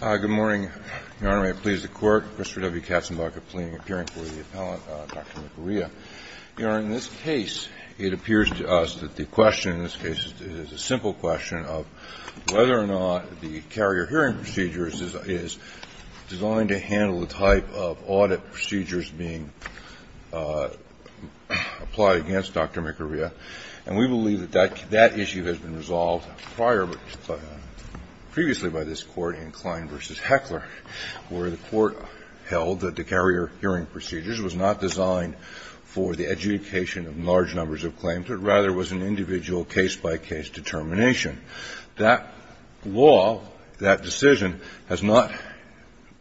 Good morning, Your Honor. May it please the Court, Christopher W. Katzenbach appealing for the appellant, Dr. Mukuriya. Your Honor, in this case, it appears to us that the question in this case is a simple question of whether or not the carrier hearing procedure is designed to handle the type of audit procedures being applied against Dr. Mukuriya. And we believe that that issue has been resolved prior, previously by this Court, in Klein v. Heckler, where the Court held that the carrier hearing procedures was not designed for the adjudication of large numbers of claims, but rather was an individual case-by-case determination. That law, that decision, has not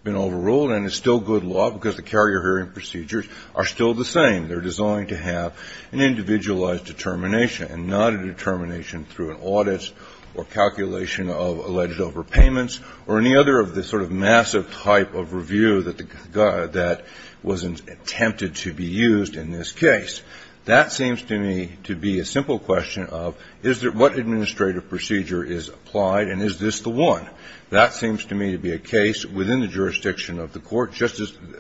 been overruled and is still good law because the carrier hearing procedures are still the same. They're designed to have an individualized determination and not a determination through an audit or calculation of alleged overpayments or any other of the sort of massive type of review that was attempted to be used in this case. That seems to me to be a simple question of what administrative procedure is applied and is this the one? That seems to me to be a case within the jurisdiction of the court,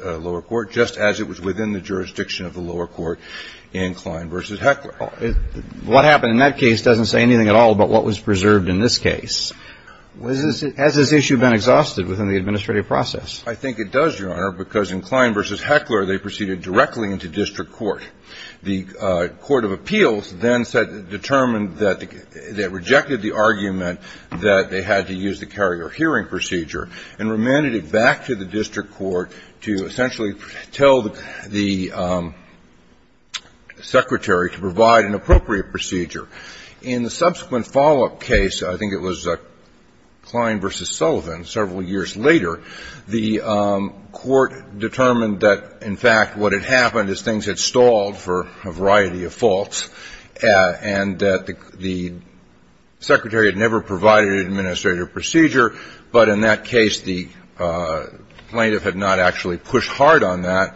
lower court, just as it was within the jurisdiction of the lower court in Klein v. Heckler. What happened in that case doesn't say anything at all about what was preserved in this case. Has this issue been exhausted within the administrative process? I think it does, Your Honor, because in Klein v. Heckler, they proceeded directly into district court. The court of appeals then determined that they rejected the argument that they had to use the carrier hearing procedure and remanded it back to the district court to essentially tell the secretary to provide an appropriate procedure. In the subsequent follow-up case, I think it was Klein v. Sullivan several years later, the court determined that, in fact, what had happened is things had stalled for a variety of faults and that the secretary had never provided an administrative procedure, but in that case, the plaintiff had not actually pushed hard on that.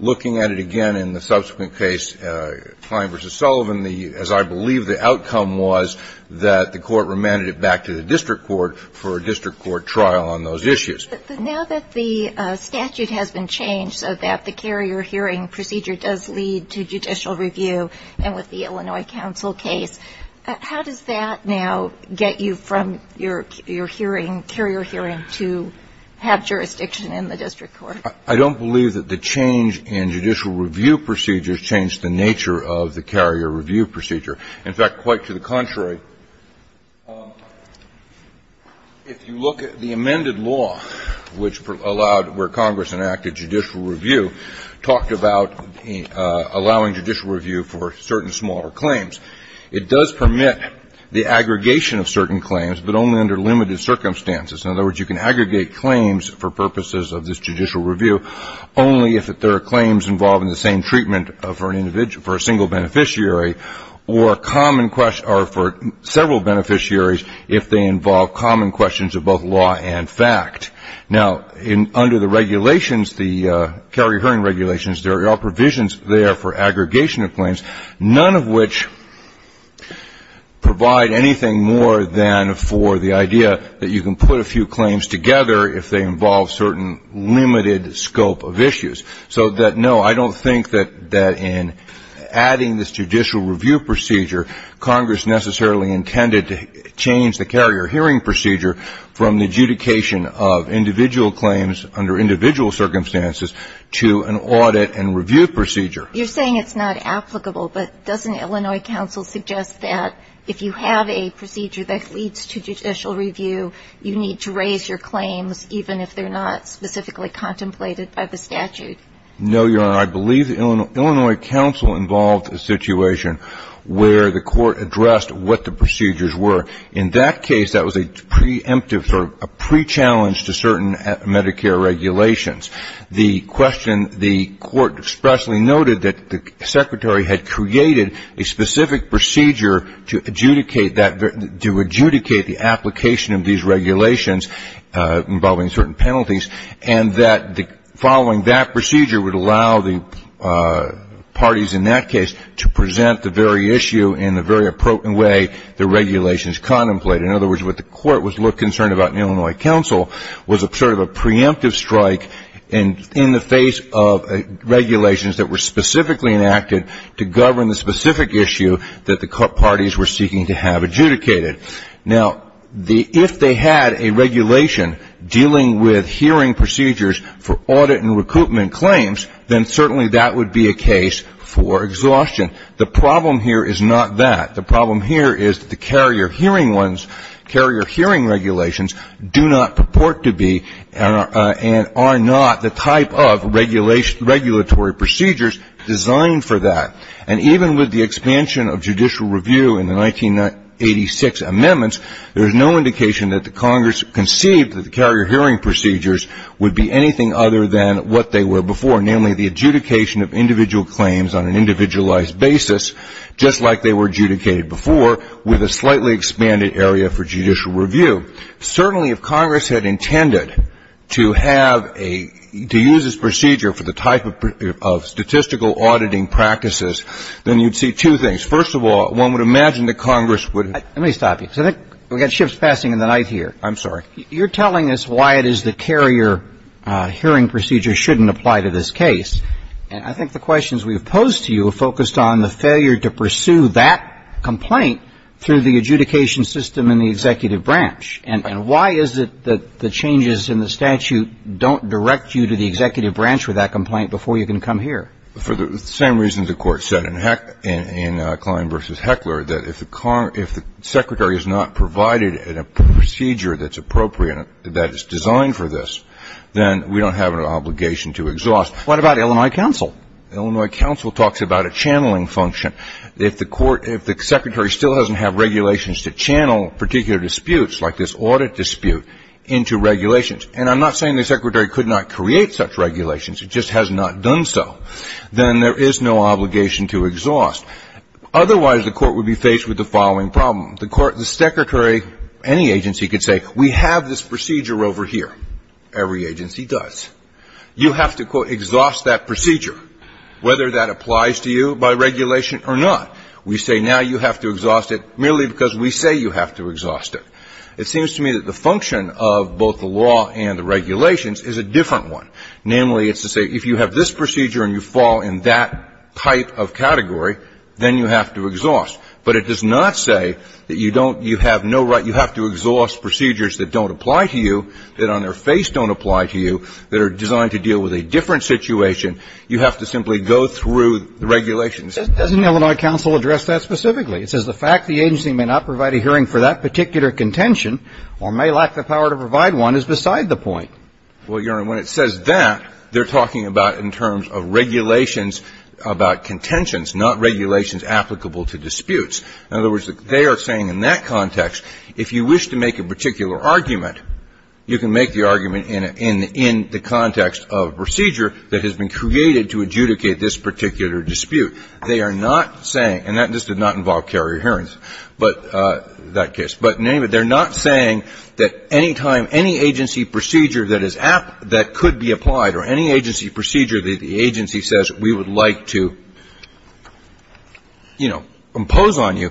Looking at it again in the subsequent case, Klein v. Sullivan, as I believe the outcome was that the court remanded it back to the district court for a district court trial on those issues. But now that the statute has been changed so that the carrier hearing procedure does lead to judicial review and with the Illinois counsel case, how does that now get you from your hearing, carrier hearing, to have jurisdiction in the district court? I don't believe that the change in judicial review procedures changed the nature of the carrier review procedure. In fact, quite to the contrary, if you look at the amended law, which allowed where Congress enacted judicial review, talked about allowing judicial review for certain smaller claims, it does permit the aggregation of certain claims, but only under limited circumstances. In other words, you can aggregate claims for purposes of this judicial review only if there are claims involving the same treatment for a single beneficiary or for several beneficiaries if they involve common questions of both law and fact. Now, under the regulations, the carrier hearing regulations, there are provisions there for aggregation of claims, none of which provide anything more than for the I don't think that in adding this judicial review procedure, Congress necessarily intended to change the carrier hearing procedure from the adjudication of individual claims under individual circumstances to an audit and review procedure. You're saying it's not applicable, but doesn't Illinois counsel suggest that if you have a procedure that leads to judicial review, you need to raise your claims even if they're not specifically contemplated by the statute? No, Your Honor. I believe Illinois counsel involved a situation where the court addressed what the procedures were. In that case, that was a preemptive or a pre-challenge to certain Medicare regulations. The question, the court expressly noted that the secretary had created a specific procedure to adjudicate that, to adjudicate the application of these regulations involving certain penalties, and that following that procedure would allow the parties in that case to present the very issue in the very appropriate way the regulations contemplated. In other words, what the court was concerned about in Illinois counsel was sort of a preemptive strike in the face of regulations that were specifically enacted to govern the specific issue that the parties were seeking to have adjudicated. Now, if they had a regulation dealing with hearing procedures for audit and recoupment claims, then certainly that would be a case for exhaustion. The problem here is not that. The problem here is the carrier hearing ones, carrier hearing regulations do not purport to be and are not the type of regulatory procedures designed for that. And even with the expansion of judicial review in the 1986 amendments, there is no indication that the Congress conceived that the carrier hearing procedures would be anything other than what they were before, namely the adjudication of individual claims on an individualized basis, just like they were adjudicated before, with a slightly expanded area for judicial review. Certainly if Congress had intended to have a, to use this procedure for the type of statistical auditing practices, then you'd see two things. First of all, one would imagine that Congress would. Let me stop you. We've got shifts passing in the night here. I'm sorry. You're telling us why it is the carrier hearing procedure shouldn't apply to this case. And I think the questions we've posed to you have focused on the failure to pursue that complaint through the adjudication system in the executive branch. And why is it that the changes in the statute don't direct you to the executive branch for that complaint before you can come here? For the same reasons the Court said in Klein v. Heckler, that if the secretary is not provided a procedure that's appropriate, that is designed for this, then we don't have an obligation to exhaust. What about Illinois counsel? Illinois counsel talks about a channeling function. If the court, if the secretary still doesn't have regulations to channel particular disputes like this audit dispute into regulations, and I'm not saying the secretary could not create such regulations, it just has not done so, then there is no obligation to exhaust. Otherwise, the court would be faced with the following problem. The court, the secretary, any agency could say, we have this procedure over here. Every agency does. You have to, quote, exhaust that procedure, whether that applies to you by regulation or not. We say now you have to exhaust it merely because we say you have to exhaust it. It seems to me that the function of both the law and the regulations is a different one. Namely, it's to say if you have this procedure and you fall in that type of category, then you have to exhaust. But it does not say that you don't, you have no right, you have to exhaust procedures that don't apply to you, that on their face don't apply to you, that are designed to deal with a different situation. You have to simply go through the regulations. Doesn't Illinois counsel address that specifically? It says the fact the agency may not provide a hearing for that particular contention or may lack the power to provide one is beside the point. Well, Your Honor, when it says that, they're talking about in terms of regulations about contentions, not regulations applicable to disputes. In other words, they are saying in that context, if you wish to make a particular argument, you can make the argument in the context of procedure that has been created to adjudicate this particular dispute. They are not saying, and that just did not involve carrier hearings, but that case. But they're not saying that any time any agency procedure that is, that could be applied or any agency procedure that the agency says we would like to, you know, impose on you,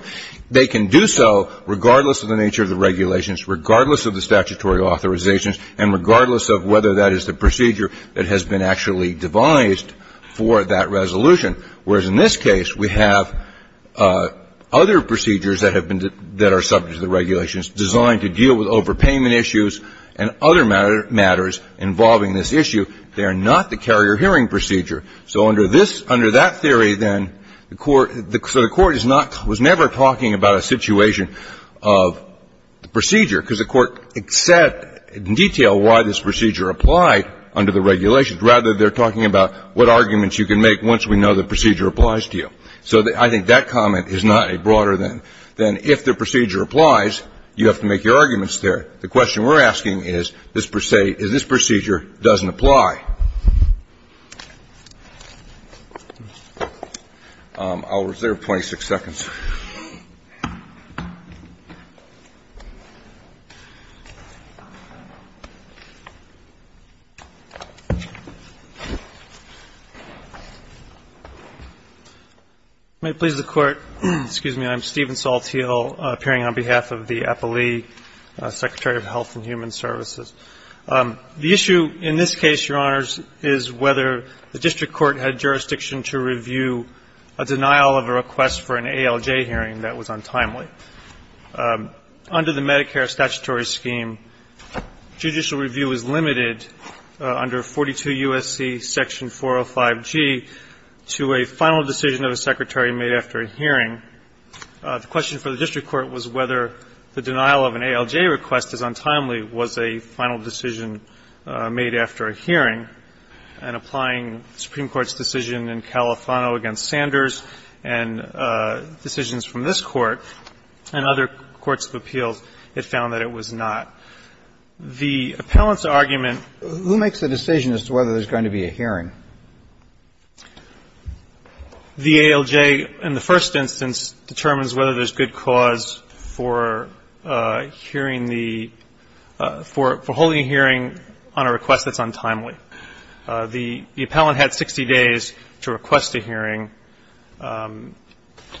they can do so regardless of the nature of the regulations, regardless of the statutory authorizations, and regardless of whether that is the procedure that has been actually devised for that resolution. Whereas in this case, we have other procedures that have been, that are subject to the regulations designed to deal with overpayment issues and other matters involving this issue. They are not the carrier hearing procedure. So under this, under that theory, then, the Court, so the Court is not, was never talking about a situation of procedure, because the Court said in detail why this procedure applied under the regulations. Rather, they're talking about what arguments you can make once we know the procedure applies to you. So I think that comment is not a broader than, than if the procedure applies, you have to make your arguments there. The question we're asking is, this procedure doesn't apply. I'll reserve 26 seconds. May it please the Court. Excuse me. I'm Steven Saul Teel, appearing on behalf of the APALEE, Secretary of Health and Human Services. The issue in this case, Your Honors, is whether the district court had jurisdiction to review a denial of a request for an ALJ hearing that was untimely. Under the Medicare statutory scheme, judicial review is limited under 42 U.S.C. Section 405G to a final decision of a secretary made after a hearing. The question for the district court was whether the denial of an ALJ request as untimely was a final decision made after a hearing. And applying the Supreme Court's decision in Califano against Sanders and decisions from this Court and other courts of appeals, it found that it was not. The appellant's argument. Who makes the decision as to whether there's going to be a hearing? The ALJ, in the first instance, determines whether there's good cause for hearing the ‑‑ for holding a hearing on a request that's untimely. The appellant had 60 days to request a hearing. I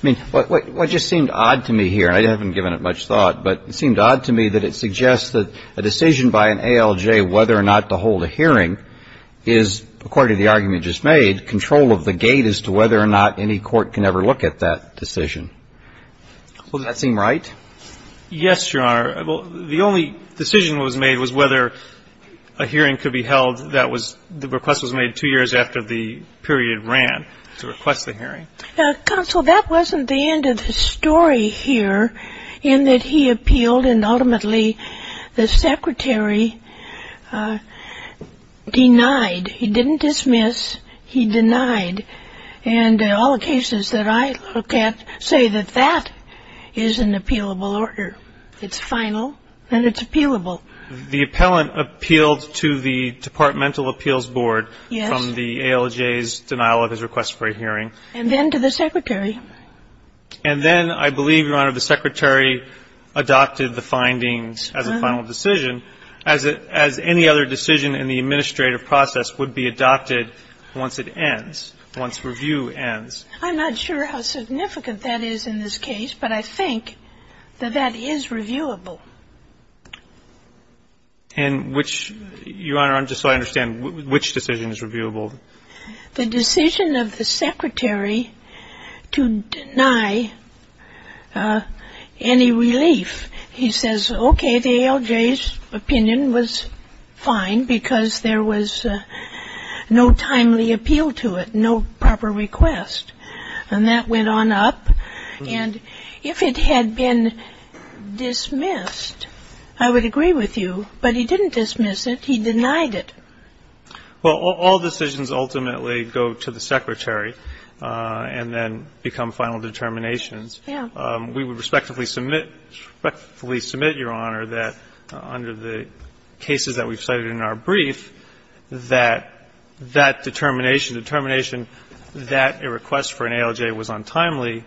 mean, what just seemed odd to me here, and I haven't given it much thought, but it seemed odd to me that it suggests that a decision by an ALJ whether or not to hold a hearing is, according to the argument just made, control of the gate as to whether or not any court can ever look at that decision. Well, does that seem right? Yes, Your Honor. The only decision that was made was whether a hearing could be held that was ‑‑ the request was made two years after the period ran to request the hearing. Counsel, that wasn't the end of the story here in that he appealed and ultimately the secretary denied. He didn't dismiss. He denied. And all the cases that I look at say that that is an appealable order. It's final and it's appealable. The appellant appealed to the Departmental Appeals Board from the ALJ's denial of his request for a hearing. And then to the secretary. And then, I believe, Your Honor, the secretary adopted the findings as a final decision as any other decision in the administrative process would be adopted once it ends, once review ends. I'm not sure how significant that is in this case, but I think that that is reviewable. And which, Your Honor, just so I understand, which decision is reviewable? The decision of the secretary to deny any relief. He says, okay, the ALJ's opinion was fine because there was no timely appeal to it, no proper request. And that went on up. And if it had been dismissed, I would agree with you, but he didn't dismiss it. He denied it. Well, all decisions ultimately go to the secretary and then become final determinations. Yeah. We would respectfully submit, respectfully submit, Your Honor, that under the cases that we've cited in our brief, that that determination, determination that a request for an ALJ was untimely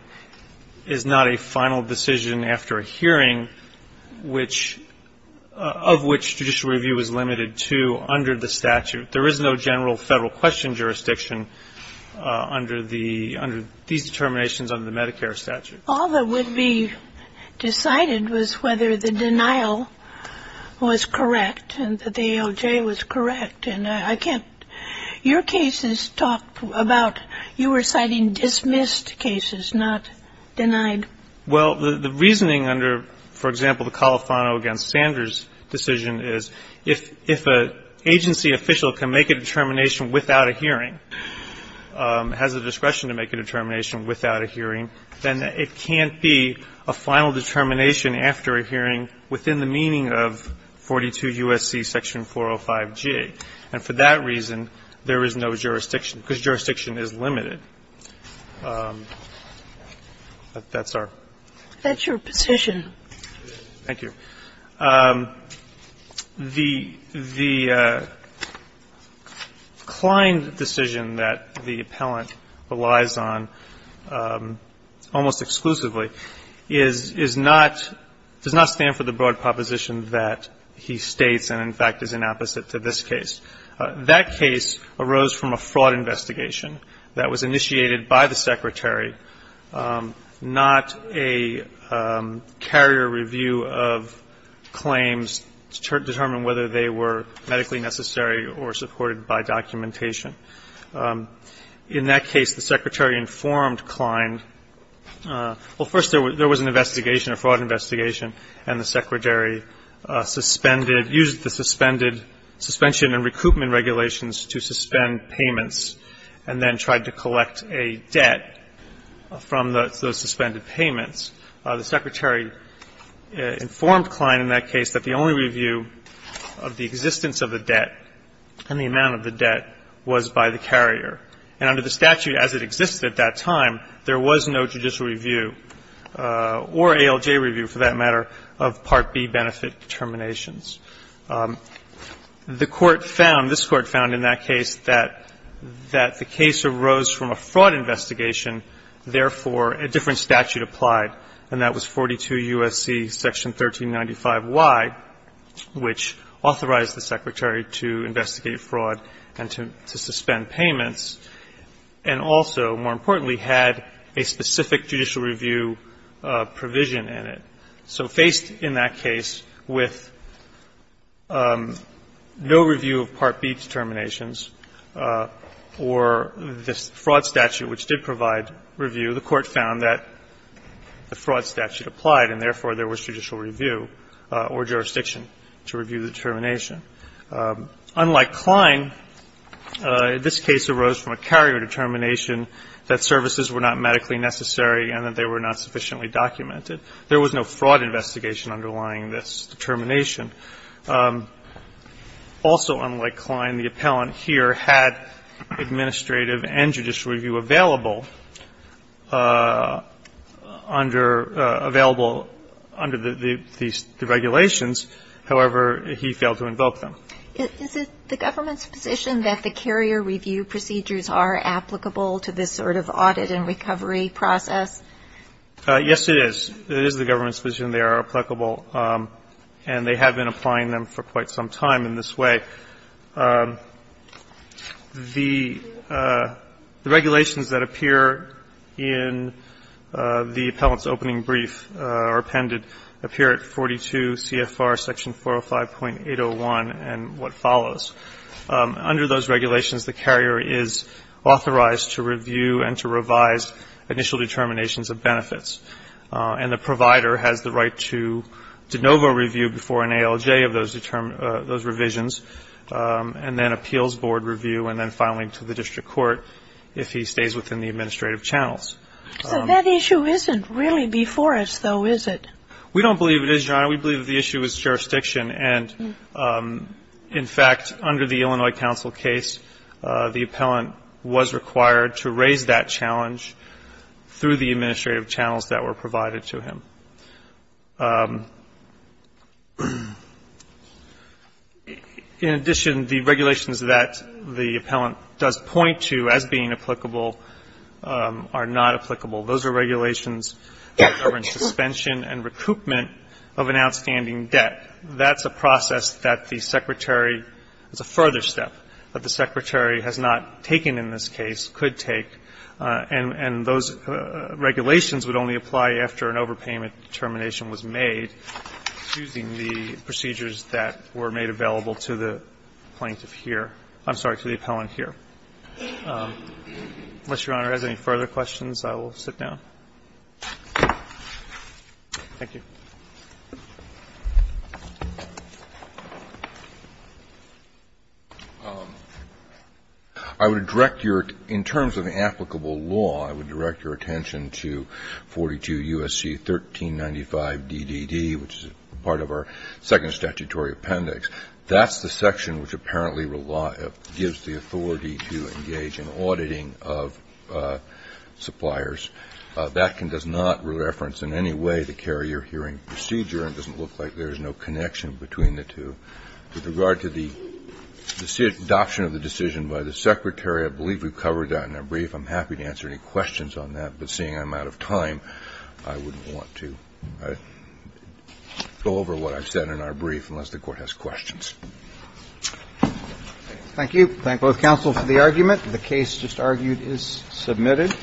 is not a final decision after a hearing, which of which judicial review is limited to under the statute. There is no general federal question jurisdiction under the, under these determinations under the Medicare statute. All that would be decided was whether the denial was correct and that the ALJ was correct. And I can't – your cases talk about you were citing dismissed cases, not denied. Well, the reasoning under, for example, the Califano v. Sanders decision is if an agency official can make a determination without a hearing, has the discretion to make a determination without a hearing, then it can't be a final determination after a hearing within the meaning of 42 U.S.C. section 405G. And for that reason, there is no jurisdiction because jurisdiction is limited. That's our question. That's your position. Thank you. The Kline decision that the appellant relies on almost exclusively is, is not, does not stand for the broad proposition that he states and, in fact, is an opposite to this case. That case arose from a fraud investigation that was initiated by the Secretary, not a carrier review of claims to determine whether they were medically necessary or supported by documentation. In that case, the Secretary informed Kline – well, first, there was an investigation, a fraud investigation, and the Secretary suspended – used the suspended suspension and recoupment regulations to suspend payments and then tried to collect a debt from those suspended payments. The Secretary informed Kline in that case that the only review of the existence of the debt and the amount of the debt was by the carrier. And under the statute as it existed at that time, there was no judicial review or ALJ review, for that matter, of Part B benefit determinations. The Court found, this Court found in that case, that the case arose from a fraud investigation, therefore a different statute applied, and that was 42 U.S.C. section 1395Y, which authorized the Secretary to investigate fraud and to suspend payments and also, more importantly, had a specific judicial review provision in it. So faced in that case with no review of Part B determinations or this fraud statute, which did provide review, the Court found that the fraud statute applied and therefore there was judicial review or jurisdiction to review the determination. Unlike Kline, this case arose from a carrier determination that services were not medically necessary and that they were not sufficiently documented. There was no fraud investigation underlying this determination. Also unlike Kline, the appellant here had administrative and judicial review available under the regulations. However, he failed to invoke them. Is it the government's position that the carrier review procedures are applicable to this sort of audit and recovery process? Yes, it is. It is the government's position they are applicable, and they have been applying them for quite some time in this way. The regulations that appear in the appellant's opening brief or appended appear at 42 CFR section 405.801 and what follows. Under those regulations, the carrier is authorized to review and to revise initial determinations of benefits. And the provider has the right to de novo review before an ALJ of those revisions and then appeals board review and then filing to the district court if he stays within the administrative channels. So that issue isn't really before us, though, is it? We don't believe it is, Your Honor. We believe the issue is jurisdiction. And in fact, under the Illinois counsel case, the appellant was required to raise that challenge through the administrative channels that were provided to him. In addition, the regulations that the appellant does point to as being applicable are not applicable. Those are regulations that govern suspension and recoupment of an outstanding debt. That's a process that the Secretary, it's a further step, that the Secretary has not taken in this case, could take. And those regulations would only apply after an overpayment determination was made using the procedures that were made available to the plaintiff here. I'm sorry, to the appellant here. Unless Your Honor has any further questions, I will sit down. Thank you. I would direct your, in terms of the applicable law, I would direct your attention to 42 U.S.C. 1395 D.D.D., which is part of our second statutory appendix. That's the section which apparently gives the authority to engage in auditing of suppliers. That does not reference in any way the carrier hearing procedure. It doesn't look like there's no connection between the two. With regard to the adoption of the decision by the Secretary, I believe we've covered that in our brief. I'm happy to answer any questions on that. But seeing I'm out of time, I wouldn't want to go over what I've said in our brief Thank you. Thank both counsel for the argument. The case just argued is submitted.